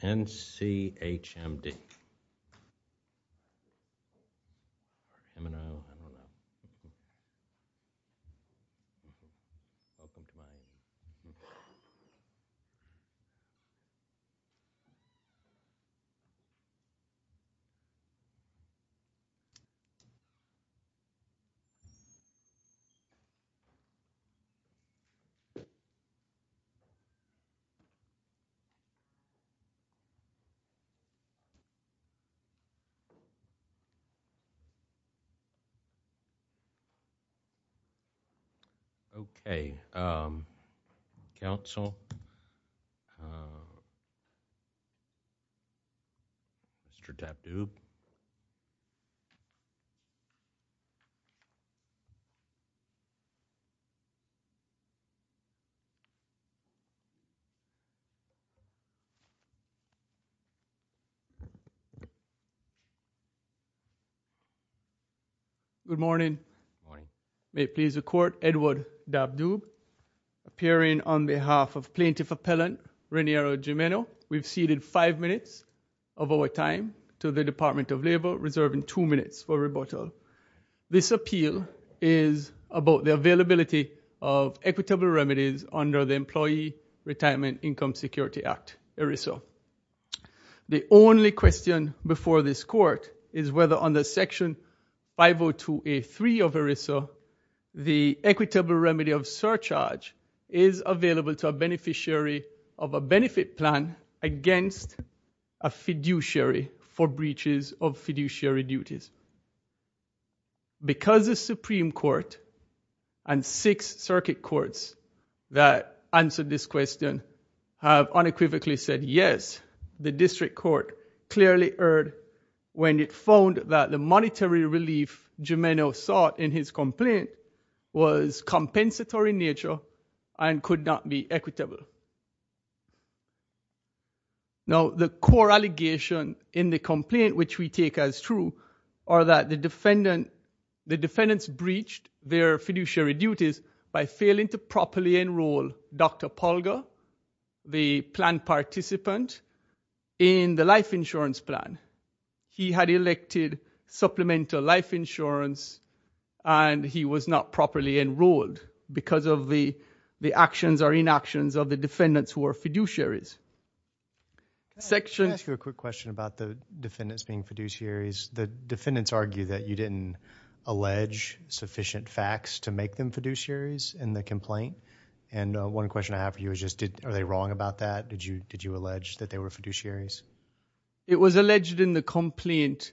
NCHMD. Okay. Council. Mr. Dabdoub. Good morning. Good morning. May it please the court, Edward Dabdoub, appearing on behalf of plaintiff appellant Reniero Gimeno. We've ceded five minutes of our time to the Department of Labor, reserving two minutes for rebuttal. This appeal is about the availability of equitable remedies under the Employee Retirement Income Security Act, ERISA. The only question before this court is whether under Section 502A3 of ERISA, the equitable remedy of surcharge is available to a beneficiary of a benefit plan against a fiduciary for breaches of fiduciary duties. Because the Supreme Court and six circuit courts that answered this question have unequivocally said yes, the district court clearly erred when it found that the monetary relief Gimeno sought in his complaint was compensatory in nature and could not be equitable. Now, the core allegation in the complaint which we take as true are that the defendants breached their fiduciary duties by failing to properly enroll Dr. Polga, the plan participant, in the life insurance plan. He had elected supplemental life insurance, and he was not properly enrolled because of the actions or inactions of the defendants who were fiduciaries. Can I ask you a quick question about the defendants being fiduciaries? The defendants argue that you didn't allege sufficient facts to make them fiduciaries in the complaint, and one question I have for you is just are they wrong about that? Did you allege that they were fiduciaries? It was alleged in the complaint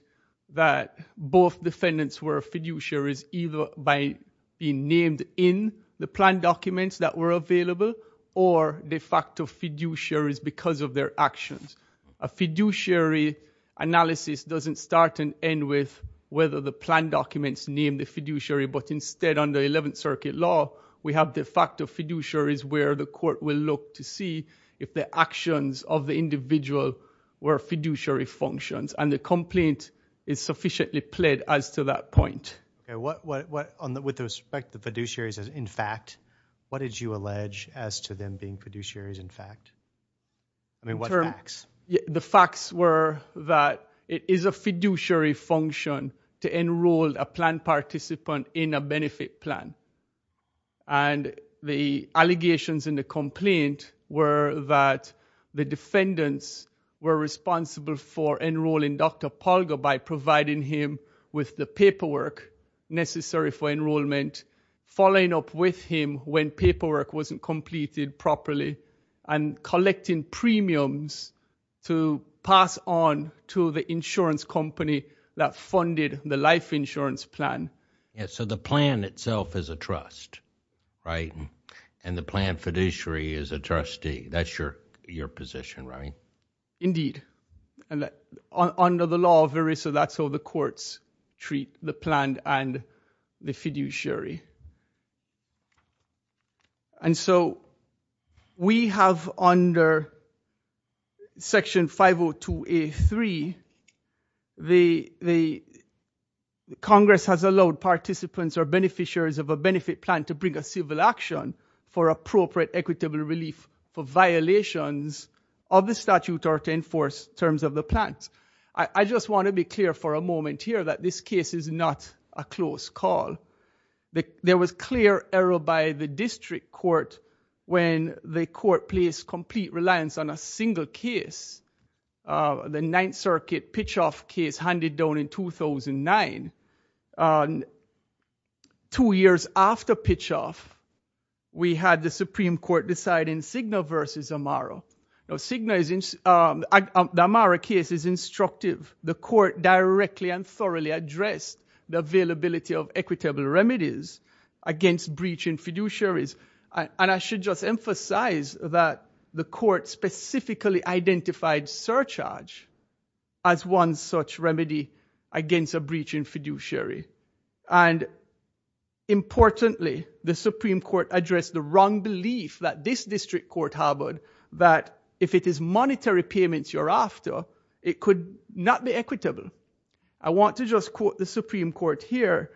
that both defendants were fiduciaries either by being named in the plan documents that were available or de facto fiduciaries because of their actions. A fiduciary analysis doesn't start and end with whether the plan documents name the fiduciary, but instead under 11th Circuit law, we have de facto fiduciaries where the court will look to see if the actions of the individual were fiduciary functions, and the complaint is sufficiently pled as to that point. With respect to fiduciaries as in fact, what did you allege as to them being fiduciaries in fact? The facts were that it is a fiduciary function to enroll a plan participant in a benefit plan. And the allegations in the complaint were that the defendants were responsible for enrolling Dr. Polga by providing him with the paperwork necessary for enrollment, following up with him when paperwork wasn't completed properly, and collecting premiums to pass on to the insurance company that funded the life insurance plan. So the plan itself is a trust, right? And the plan fiduciary is a trustee. That's your position, right? Indeed, under the law of ERISA, that's how the courts treat the plan and the fiduciary. And so we have under Section 502A3, the Congress has allowed participants or beneficiaries of a benefit plan to bring a civil action for appropriate equitable relief for violations of the statute or to enforce terms of the plan. I just want to be clear for a moment here that this case is not a close call. There was clear error by the district court when the court placed complete reliance on a single case, the Ninth Circuit pitch-off case handed down in 2009. Two years after pitch-off, we had the Supreme Court deciding Cigna versus Amaro. The Amaro case is instructive. The court directly and thoroughly addressed the availability of equitable remedies against breach in fiduciaries. And I should just emphasize that the court specifically identified surcharge as one such remedy against a breach in fiduciary. And importantly, the Supreme Court addressed the wrong belief that this district court harbored that if it is monetary payments you're after, it could not be equitable. I want to just quote the Supreme Court here.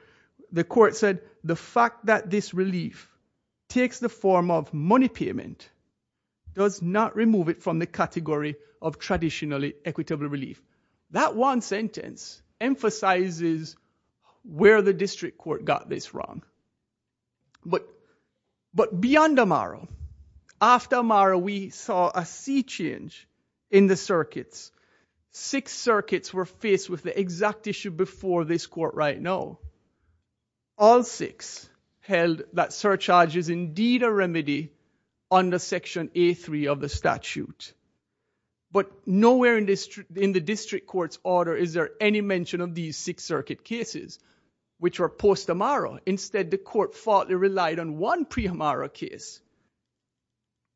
The court said, the fact that this relief takes the form of money payment does not remove it from the category of traditionally equitable relief. That one sentence emphasizes where the district court got this wrong. But beyond Amaro, after Amaro we saw a sea change in the circuits. Six circuits were faced with the exact issue before this court right now. All six held that surcharge is indeed a remedy under Section A3 of the statute. But nowhere in the district court's order is there any mention of these six circuit cases, which were post-Amaro. Instead, the court thought it relied on one pre-Amaro case.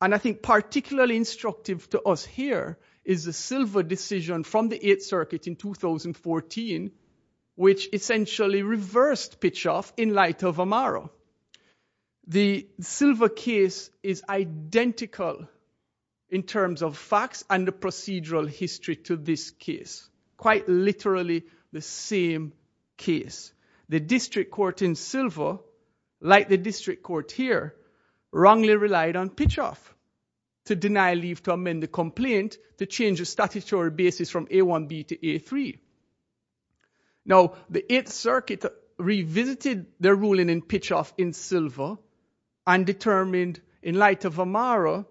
And I think particularly instructive to us here is the Silva decision from the Eighth Circuit in 2014, which essentially reversed Pitchoff in light of Amaro. The Silva case is identical in terms of facts and the procedural history to this case. Quite literally the same case. The district court in Silva, like the district court here, wrongly relied on Pitchoff to deny leave to amend the complaint to change the statutory basis from A1B to A3. Now the Eighth Circuit revisited their ruling in Pitchoff in Silva and determined in light of Amaro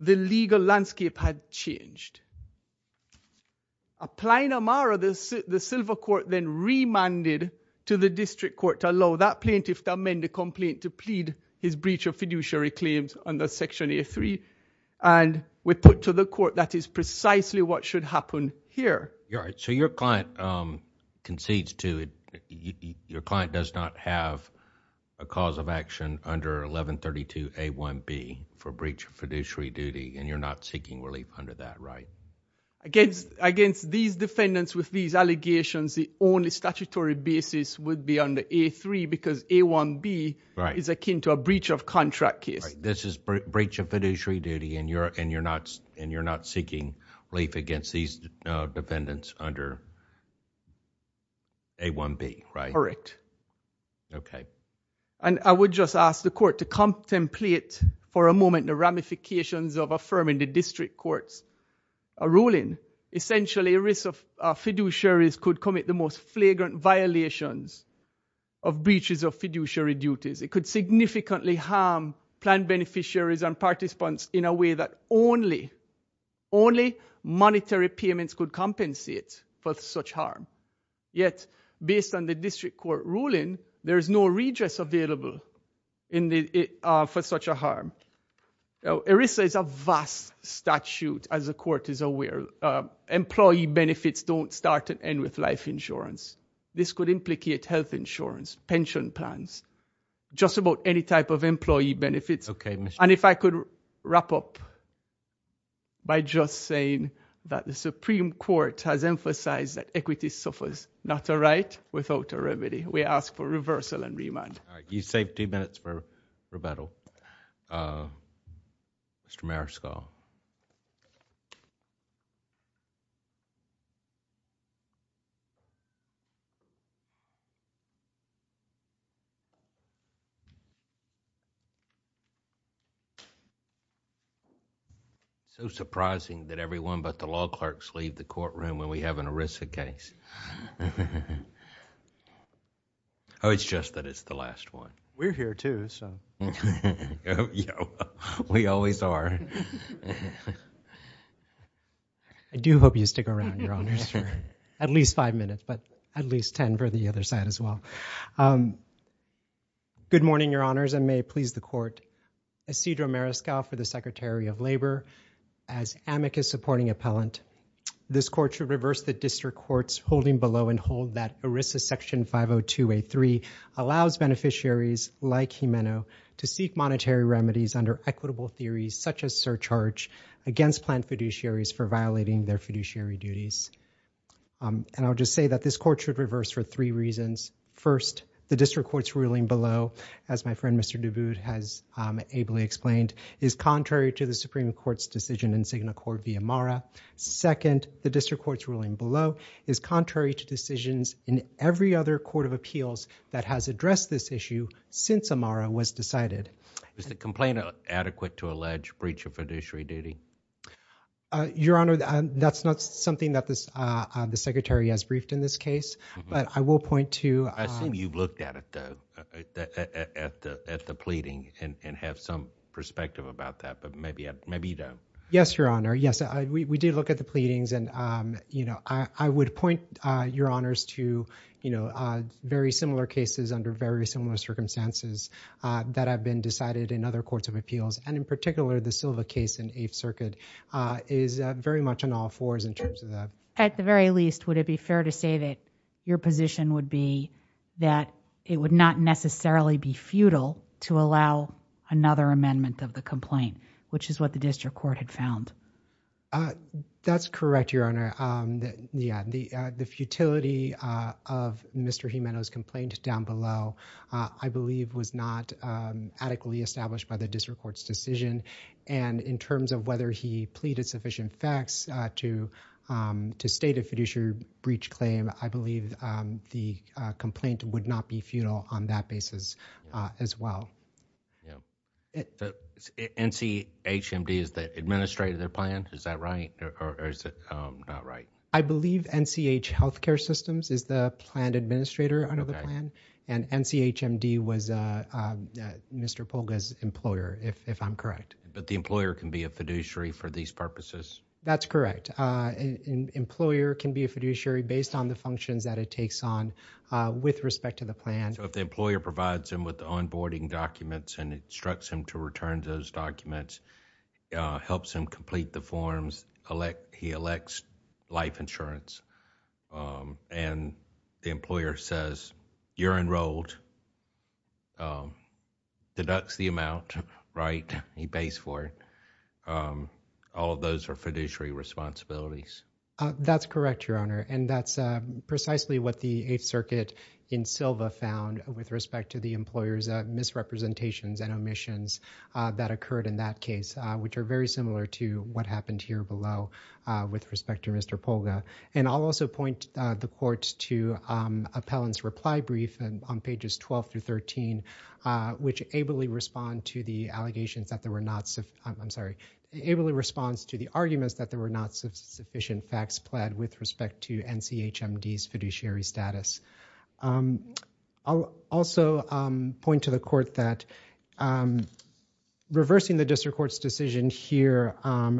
the legal landscape had changed. Applying Amaro, the Silva court then remanded to the district court to allow that plaintiff to amend the complaint to plead his breach of fiduciary claims under Section A3. And we put to the court that is precisely what should happen here. Your client does not have a cause of action under 1132A1B for breach of fiduciary duty and you're not seeking relief under that, right? Against these defendants with these allegations, the only statutory basis would be under A3 because A1B is akin to a breach of contract case. This is breach of fiduciary duty and you're not seeking relief against these defendants under A1B, right? Correct. And I would just ask the court to contemplate for a moment the ramifications of affirming the district court's ruling. Essentially a risk of fiduciaries could commit the most flagrant violations of breaches of fiduciary duties. It could significantly harm plaintiff beneficiaries and participants in a way that only monetary payments could compensate for such harm. Yet based on the district court ruling, there is no redress available for such a harm. ERISA is a vast statute as the court is aware. Employee benefits don't start and end with life insurance. This could implicate health insurance, pension plans, just about any type of employee benefits. And if I could wrap up by just saying that the Supreme Court has emphasized that equity suffers. Not a right without a remedy. We ask for reversal and remand. You saved two minutes for rebuttal. Mr. Mariscal. So surprising that everyone but the law clerks leave the courtroom when we have an ERISA case. Oh, it's just that it's the last one. We're here too, so. We always are. I do hope you stick around, Your Honors, for at least five minutes, but at least ten for the other side as well. Good morning, Your Honors, and may it please the court. Isidro Mariscal for the Secretary of Labor. As amicus supporting appellant, this court should reverse the district court's holding below and hold that ERISA section 50283 allows beneficiaries like Jimeno to seek monetary remedies under equitable theories such as surcharge against planned fiduciaries for violating their fiduciary duties. And I'll just say that this court should reverse for three reasons. First, the district court's ruling below, as my friend Mr. Duboud has ably explained, is contrary to the Supreme Court's decision in Signa Corte V. Amara. Second, the district court's ruling below is contrary to decisions in every other court of appeals that has addressed this issue since Amara was decided. Is the complaint adequate to allege breach of fiduciary duty? Your Honor, that's not something that the Secretary has briefed in this case, but I will point to... I assume you've looked at it, though, at the pleading and have some perspective about that, but maybe you don't. Yes, Your Honor. Yes, we did look at the pleadings. I would point, Your Honors, to very similar cases under very similar circumstances that have been decided in other courts of appeals, and in particular, the Silva case in Eighth Circuit is very much on all fours in terms of that. At the very least, would it be fair to say that your position would be that it would not necessarily be futile to allow another amendment of the complaint, which is what the district court had found? That's correct, Your Honor. The futility of Mr. Jimeno's complaint down below, I believe, was not adequately established by the district court's decision, and in terms of whether he pleaded sufficient facts to state a fiduciary breach claim, I believe the complaint would not be futile on that basis as well. NCHMD is the administrator of the plan? Is that right, or is it not right? I believe NCH Healthcare Systems is the plan administrator under the plan, and NCHMD was Mr. Polga's employer, if I'm correct. But the employer can be a fiduciary for these purposes? That's correct. An employer can be a fiduciary based on the functions that it takes on with respect to the plan. If the employer provides him with the onboarding documents and instructs him to return those documents, helps him complete the forms, he elects life insurance, and the employer says, you're enrolled, deducts the amount, he pays for it, all of those are fiduciary responsibilities. That's correct, Your Honor, and that's precisely what the Eighth Circuit in Silva found with respect to the employer's misrepresentations and omissions that occurred in that case, which are very similar to what happened here below with respect to Mr. Polga. And I'll also point the court to Appellant's reply brief on pages 12 through 13, which ably responds to the arguments that there were not sufficient facts pled with respect to NCHMD's fiduciary status. I'll also point to the court that reversing the district court's decision here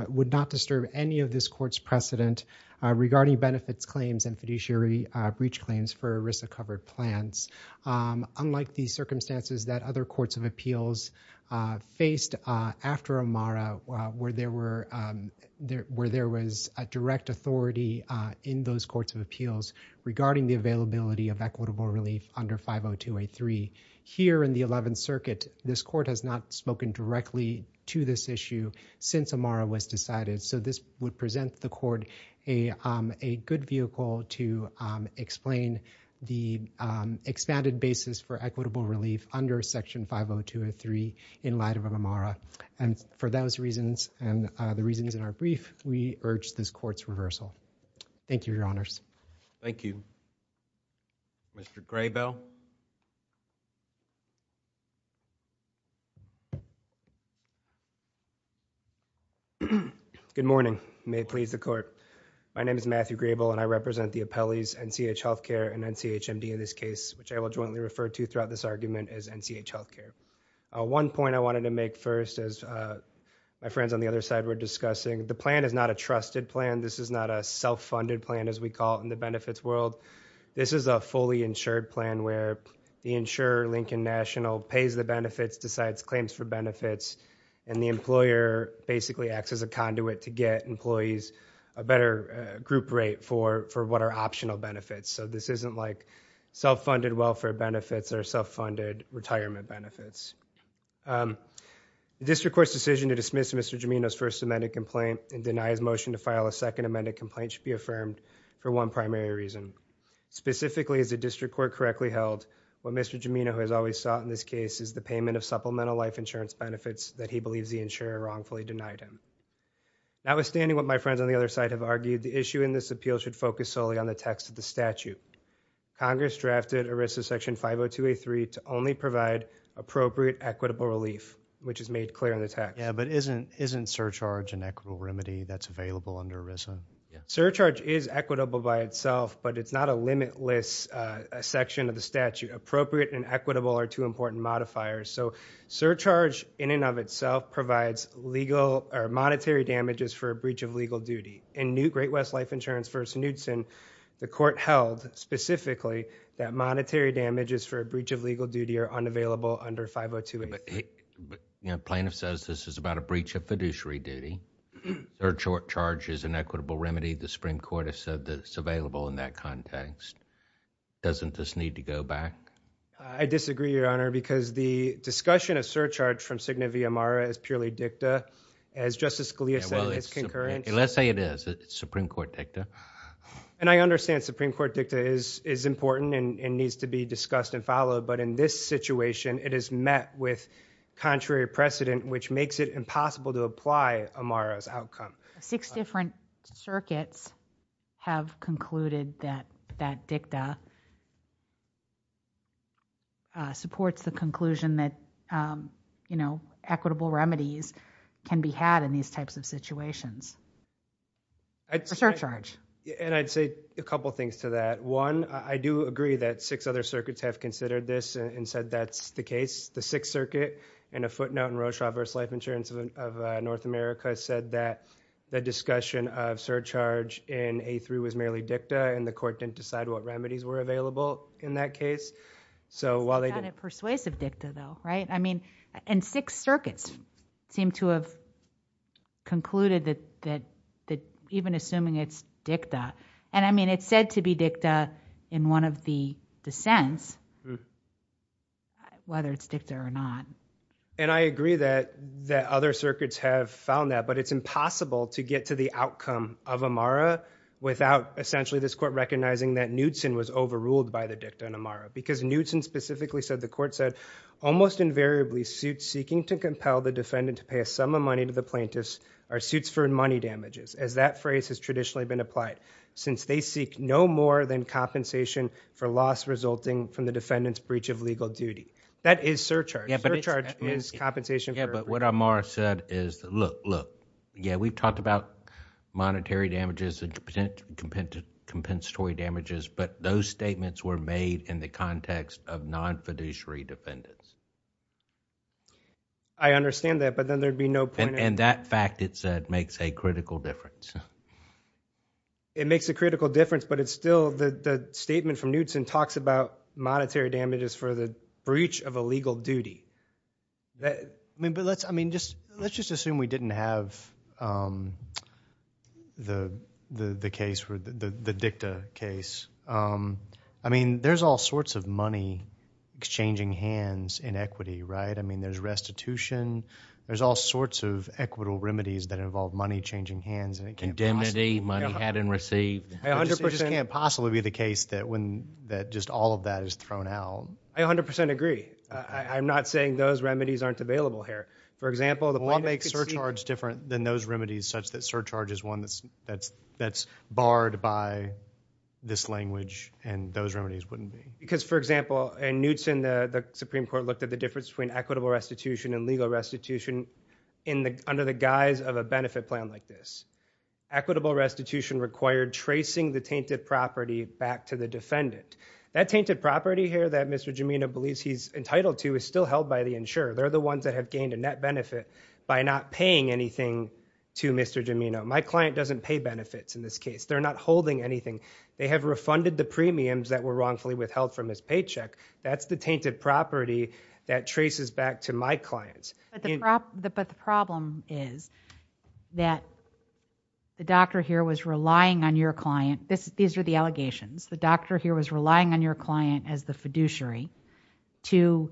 would not disturb any of this court's precedent regarding benefits claims and fiduciary breach claims for ERISA-covered plans. Unlike the circumstances that other courts of appeals faced after Amara, where there was a direct authority in those courts of appeals regarding the availability of equitable relief under 50283. Here in the Eleventh Circuit, this court has not spoken directly to this issue since Amara was decided, so this would present the court a good vehicle to explain the expanded basis for equitable relief under Section 50203 in light of Amara. And for those reasons and the reasons in our brief, we urge this court's reversal. Thank you, Your Honors. Thank you. Mr. Graybell? Good morning. May it please the court. My name is Matthew Graybell, and I represent the appellees NCH Healthcare and NCHMD in this case, which I will jointly refer to throughout this argument as NCH Healthcare. One point I wanted to make first, as my friends on the other side were discussing, the plan is not a trusted plan. This is not a self-funded plan, as we call it in the benefits world. This is a fully insured plan where the insurer, Lincoln National, pays the benefits, decides claims for benefits, and the employer basically acts as a conduit to get employees a better group rate for what are optional benefits. So this isn't like self-funded welfare benefits or self-funded retirement benefits. The district court's decision to dismiss Mr. Gimeno's first amended complaint and deny his motion to file a second amended complaint should be affirmed for one primary reason. Specifically, as the district court correctly held, what Mr. Gimeno has always sought in this case is the payment of supplemental life insurance benefits that he believes the insurer wrongfully denied him. Notwithstanding what my friends on the other side have argued, the issue in this appeal should focus solely on the text of the statute. Congress drafted ERISA Section 502A3 to only provide appropriate equitable relief, which is made clear in the text. Yeah, but isn't surcharge an equitable remedy that's available under ERISA? Surcharge is equitable by itself, but it's not a limitless section of the statute. Appropriate and equitable are two important modifiers. Surcharge in and of itself provides monetary damages for a breach of legal duty. In Great West Life Insurance v. Knudsen, the court held specifically that monetary damages for a breach of legal duty are unavailable under 502A3. Plaintiff says this is about a breach of fiduciary duty. Surcharge is an equitable remedy. The Supreme Court has said that it's available in that context. Doesn't this need to go back? I disagree, Your Honor, because the discussion of surcharge from Cigna v. Amara is purely dicta. As Justice Scalia said, it's concurrent. Let's say it is. It's Supreme Court dicta. And I understand Supreme Court dicta is important and needs to be discussed and followed. But in this situation, it is met with contrary precedent, which makes it impossible to apply Amara's outcome. Six different circuits have concluded that dicta supports the conclusion that equitable remedies can be had in these types of situations. For surcharge. And I'd say a couple things to that. One, I do agree that six other circuits have considered this and said that's the case. The Sixth Circuit in a footnote in Rorschach v. Life Insurance of North America said that the discussion of surcharge in A3 was merely dicta. And the court didn't decide what remedies were available in that case. So while they did... Persuasive dicta, though, right? And Sixth Circuit seemed to have concluded that even assuming it's dicta... And, I mean, it's said to be dicta in one of the dissents, whether it's dicta or not. And I agree that other circuits have found that. But it's impossible to get to the outcome of Amara without essentially this court recognizing that Knudsen was overruled by the dicta in Amara. Because Knudsen specifically said, the court said, Almost invariably, suits seeking to compel the defendant to pay a sum of money to the plaintiffs are suits for money damages. As that phrase has traditionally been applied. Since they seek no more than compensation for loss resulting from the defendant's breach of legal duty. That is surcharge. Surcharge is compensation for... Yeah, but what Amara said is, look, look. Yeah, we've talked about monetary damages and compensatory damages. But those statements were made in the context of non-fiduciary defendants. I understand that, but then there'd be no point in... And that fact, it said, makes a critical difference. It makes a critical difference, but it's still... The statement from Knudsen talks about monetary damages for the breach of a legal duty. But let's just assume we didn't have the case, the dicta case. I mean, there's all sorts of money exchanging hands in equity, right? I mean, there's restitution. There's all sorts of equitable remedies that involve money changing hands. Condemnity, money had and received. It just can't possibly be the case that just all of that is thrown out. I 100% agree. I'm not saying those remedies aren't available here. For example, the... Well, what makes surcharge different than those remedies such that surcharge is one that's barred by this language and those remedies wouldn't be? Because, for example, in Knudsen, the Supreme Court looked at the difference between equitable restitution and legal restitution under the guise of a benefit plan like this. Equitable restitution required tracing the tainted property back to the defendant. That tainted property here that Mr. Gimeno believes he's entitled to is still held by the insurer. They're the ones that have gained a net benefit by not paying anything to Mr. Gimeno. My client doesn't pay benefits in this case. They're not holding anything. They have refunded the premiums that were wrongfully withheld from his paycheck. That's the tainted property that traces back to my clients. But the problem is that the doctor here was relying on your client. These are the allegations. He was relying on your client as the fiduciary to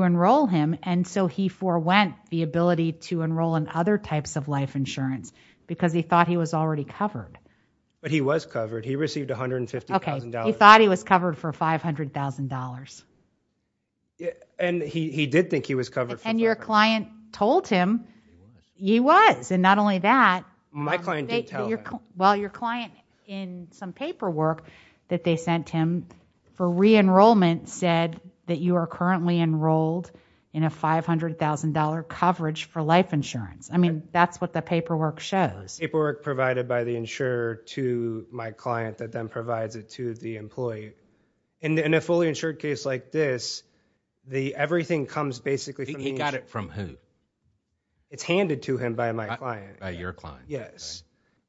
enroll him. And so he forewent the ability to enroll in other types of life insurance because he thought he was already covered. But he was covered. He received $150,000. He thought he was covered for $500,000. And he did think he was covered for $500,000. And your client told him he was. And not only that... My client did tell him. The paperwork that they sent him for re-enrollment said that you are currently enrolled in a $500,000 coverage for life insurance. I mean, that's what the paperwork shows. Paperwork provided by the insurer to my client that then provides it to the employee. In a fully insured case like this, everything comes basically from... He got it from whom? It's handed to him by my client. By your client. Yes.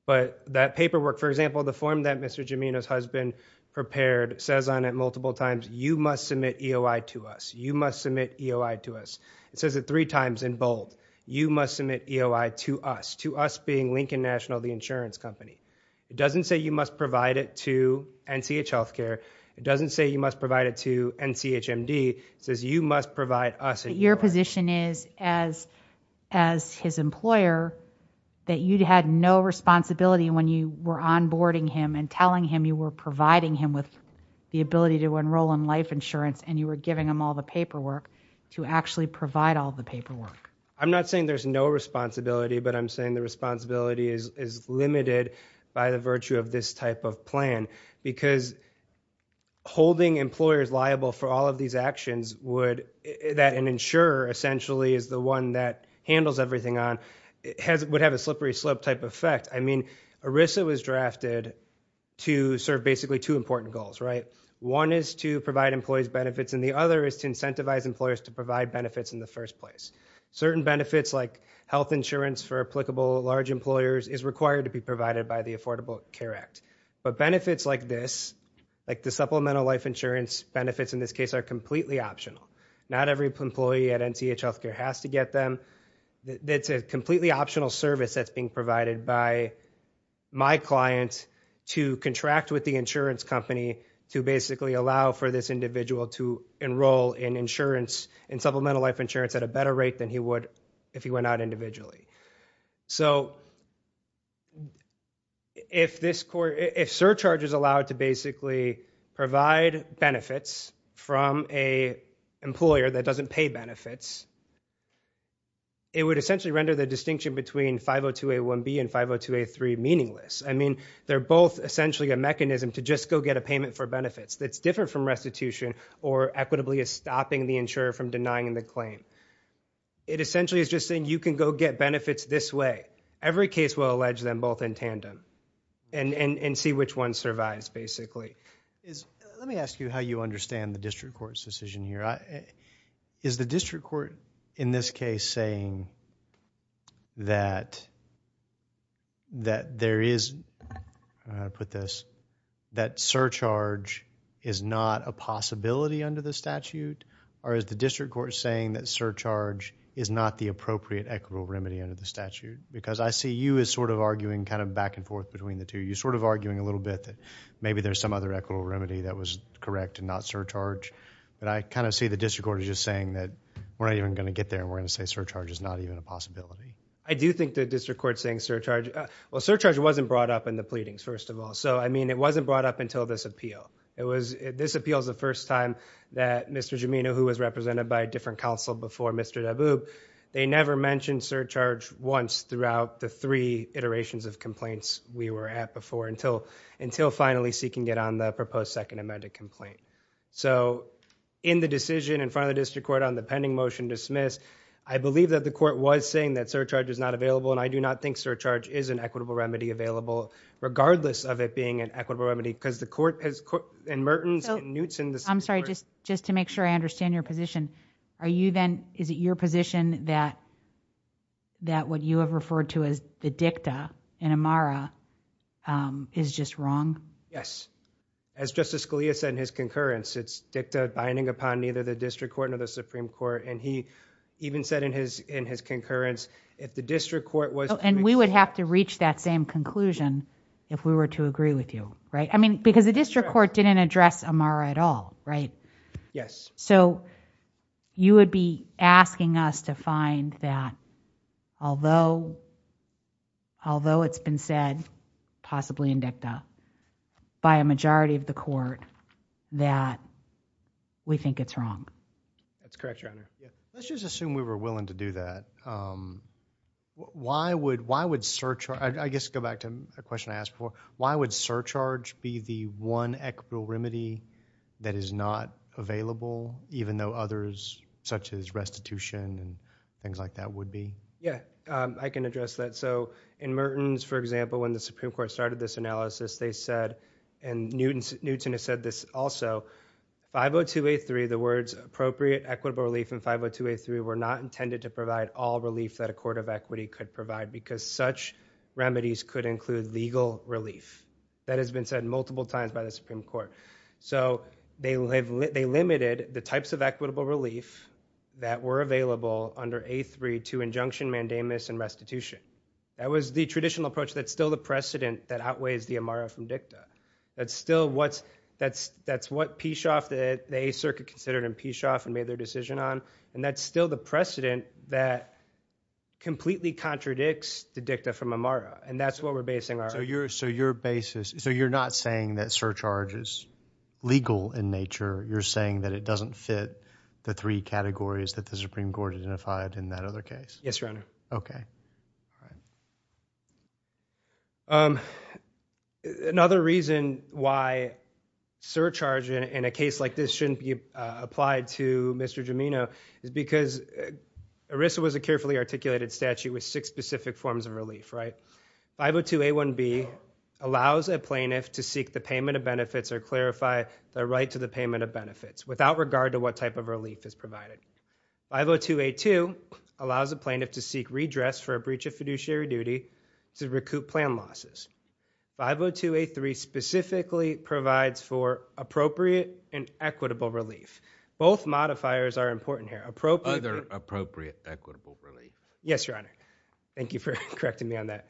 But that paperwork... For example, the form that Mr. Gimeno's husband prepared says on it multiple times, you must submit EOI to us. You must submit EOI to us. It says it three times in bold. You must submit EOI to us. To us being Lincoln National, the insurance company. It doesn't say you must provide it to NCH Healthcare. It doesn't say you must provide it to NCHMD. It says you must provide us EOI. But your position is, as his employer, that you had no responsibility when you were onboarding him and telling him you were providing him with the ability to enroll in life insurance and you were giving him all the paperwork to actually provide all the paperwork. I'm not saying there's no responsibility, but I'm saying the responsibility is limited by the virtue of this type of plan. Because holding employers liable for all of these actions, that an insurer essentially is the one that handles everything on, would have a slippery slope type effect. I mean, ERISA was drafted to serve basically two important goals, right? One is to provide employees benefits and the other is to incentivize employers to provide benefits in the first place. Certain benefits like health insurance for applicable large employers is required to be provided by the Affordable Care Act. But benefits like this, like the supplemental life insurance benefits in this case, are completely optional. Not every employee at NCH Healthcare has to get them. It's a completely optional service that's being provided by my client to contract with the insurance company to basically allow for this individual to enroll in insurance, in supplemental life insurance at a better rate than he would if he went out individually. So, if surcharges allow it to basically provide benefits from an employer that doesn't pay benefits, it would essentially render the distinction between 502A1B and 502A3 meaningless. I mean, they're both essentially a mechanism to just go get a payment for benefits that's different from restitution or equitably stopping the insurer from denying the claim. It essentially is just saying you can go get benefits this way. Every case will allege them both in tandem and see which one survives basically. Let me ask you how you understand the district court's decision here. Is the district court in this case saying that there is, I'll put this, that surcharge is not a possibility under the statute? Or is the district court saying that surcharge is not the appropriate equitable remedy under the statute? Because I see you as sort of arguing kind of back and forth between the two. You're sort of arguing a little bit that maybe there's some other equitable remedy that was correct and not surcharge. But I kind of see the district court as just saying that we're not even going to get there and we're going to say surcharge is not even a possibility. I do think the district court's saying surcharge. Well, surcharge wasn't brought up in the pleadings, first of all. So, I mean, it wasn't brought up until this appeal. It was, this appeal is the first time that Mr. Gimeno, who was represented by a different counsel before Mr. Daboob, they never mentioned surcharge once throughout the three iterations of complaints we were at before until finally seeking it on the proposed second amended complaint. So in the decision in front of the district court on the pending motion dismissed, I believe that the court was saying that surcharge is not available and I do not think surcharge is an equitable remedy available regardless of it being an equitable remedy because the court has said that it's not an equitable remedy. So, I'm sorry, just to make sure I understand your position. Are you then, is it your position that what you have referred to as the dicta in Amara is just wrong? Yes. As Justice Scalia said in his concurrence, it's dicta binding upon neither the district court nor the Supreme Court. And he even said in his concurrence, if the district court was And we would have to reach that same conclusion if we were to agree with you. Right? I mean, because the district court didn't address Amara at all, right? Yes. So, you would be asking us to find that although it's been said, possibly in dicta, by a majority of the court that we think it's wrong. That's correct, Your Honor. Let's just assume we were willing to do that. Why would surcharge, I guess go back to a question I asked before, why would surcharge be the one equitable remedy that is not available, even though others such as restitution and things like that would be? Yeah, I can address that. So, in Mertens, for example, when the Supreme Court started this analysis, they said, and Newton has said this also, 50283, the words appropriate equitable relief and 50283 were not intended to provide all relief that a court of equity could provide because such remedies could include legal relief. That has been said multiple times by the Supreme Court. So, they limited the types of equitable relief that were available under A3 to injunction mandamus and restitution. That was the traditional approach. That's still the precedent that outweighs the Amara from dicta. That's what Peshoff, the 8th Circuit considered in Peshoff and made their decision on, and that's still the precedent that completely contradicts the dicta from Amara, and that's what we're basing our argument on. So, you're not saying that surcharge is legal in nature. You're saying that it doesn't fit the three categories that the Supreme Court identified in that other case. Yes, Your Honor. Okay. All right. Another reason why surcharge in a case like this shouldn't be applied to Mr. Gimeno is because ERISA was a carefully articulated statute with six specific forms of relief, right? 502A1B allows a plaintiff to seek the payment of benefits or clarify the right to the payment of benefits without regard to what type of relief is provided. 502A2 allows a plaintiff to seek redress for a breach of fiduciary duty to recoup plan losses. 502A3 specifically provides for appropriate and equitable relief. Both modifiers are important here. Other appropriate equitable relief. Yes, Your Honor. Thank you for correcting me on that.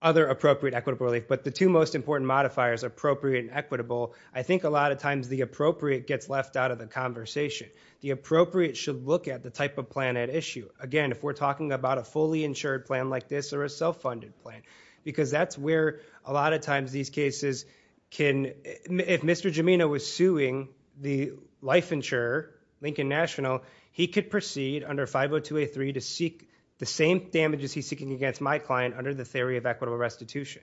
Other appropriate equitable relief. But the two most important modifiers, appropriate and equitable, I think a lot of times the appropriate gets left out of the conversation. The appropriate should look at the type of plan at issue. Again, if we're talking about a fully insured plan like this or a self-funded plan, because that's where a lot of times these cases can... If Mr. Gimeno was suing the life insurer, Lincoln National, he could proceed under 502A3 to seek the same damages he's seeking against my client under the theory of equitable restitution.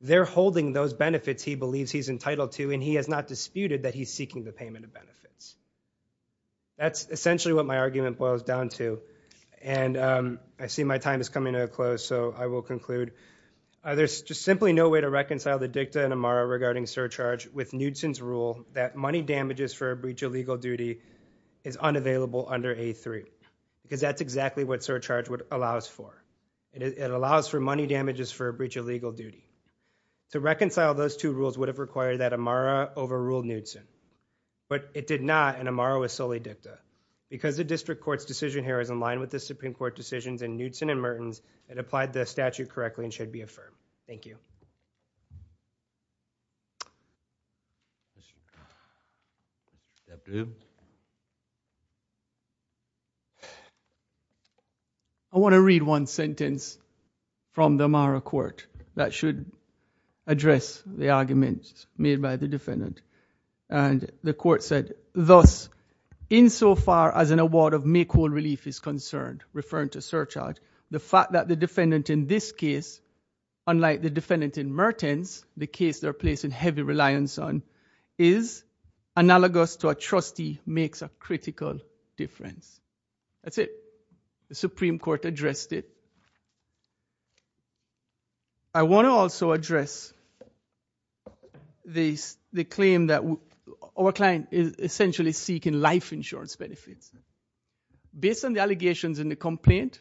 They're holding those benefits he believes he's entitled to and he has not disputed that he's seeking the payment of benefits. That's essentially what my argument boils down to. And I see my time is coming to a close, so I will conclude. There's just simply no way to reconcile the dicta in Amara regarding surcharge with Knudsen's rule that money damages for a breach of legal duty is unavailable under A3, because that's exactly what surcharge allows for. It allows for money damages for a breach of legal duty. To reconcile those two rules would have required that Amara overrule Knudsen, but it did not and Amara was solely dicta. Because the district court's decision here is in line with the Supreme Court decisions in Knudsen and Mertens, it applied the statute correctly and should be affirmed. Thank you. Good afternoon. I want to read one sentence from the Amara court that should address the arguments made by the defendant. And the court said, thus, insofar as an award of make whole relief is concerned, referring to surcharge, the fact that the defendant in this case, unlike the defendant in Mertens, the case they're placing heavy reliance on, is analogous to a trustee makes a critical difference. That's it. The Supreme Court addressed it. I want to also address the claim that our client is essentially seeking life insurance benefits. Based on the allegations in the complaint,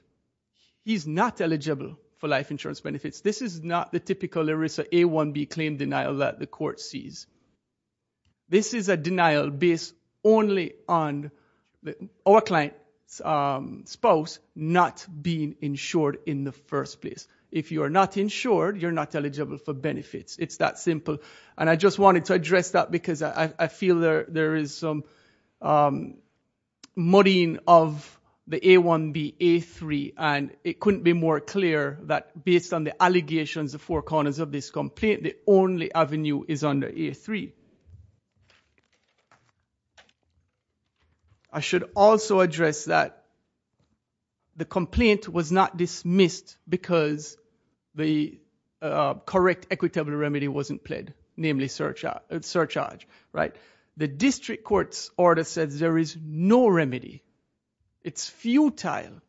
he's not eligible for life insurance benefits. This is not the typical ERISA A1B claim denial that the court sees. This is a denial based only on our client's spouse not being insured in the first place. If you're not insured, you're not eligible for benefits. It's that simple. And I just wanted to address that because I feel there is some muddying of the A1B, A3, and it couldn't be more clear that based on the allegations, the four corners of this complaint, the only avenue is under A3. I should also address that the complaint was not dismissed because the correct equitable remedy wasn't played, namely surcharge, right? The district court's order says there is no remedy. It's futile.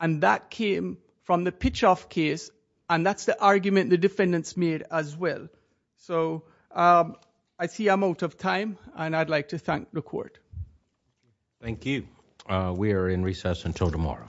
And that came from the pitch-off case, and that's the argument the defendants made as well. So I see I'm out of time, and I'd like to thank the court. Thank you. We are in recess until tomorrow.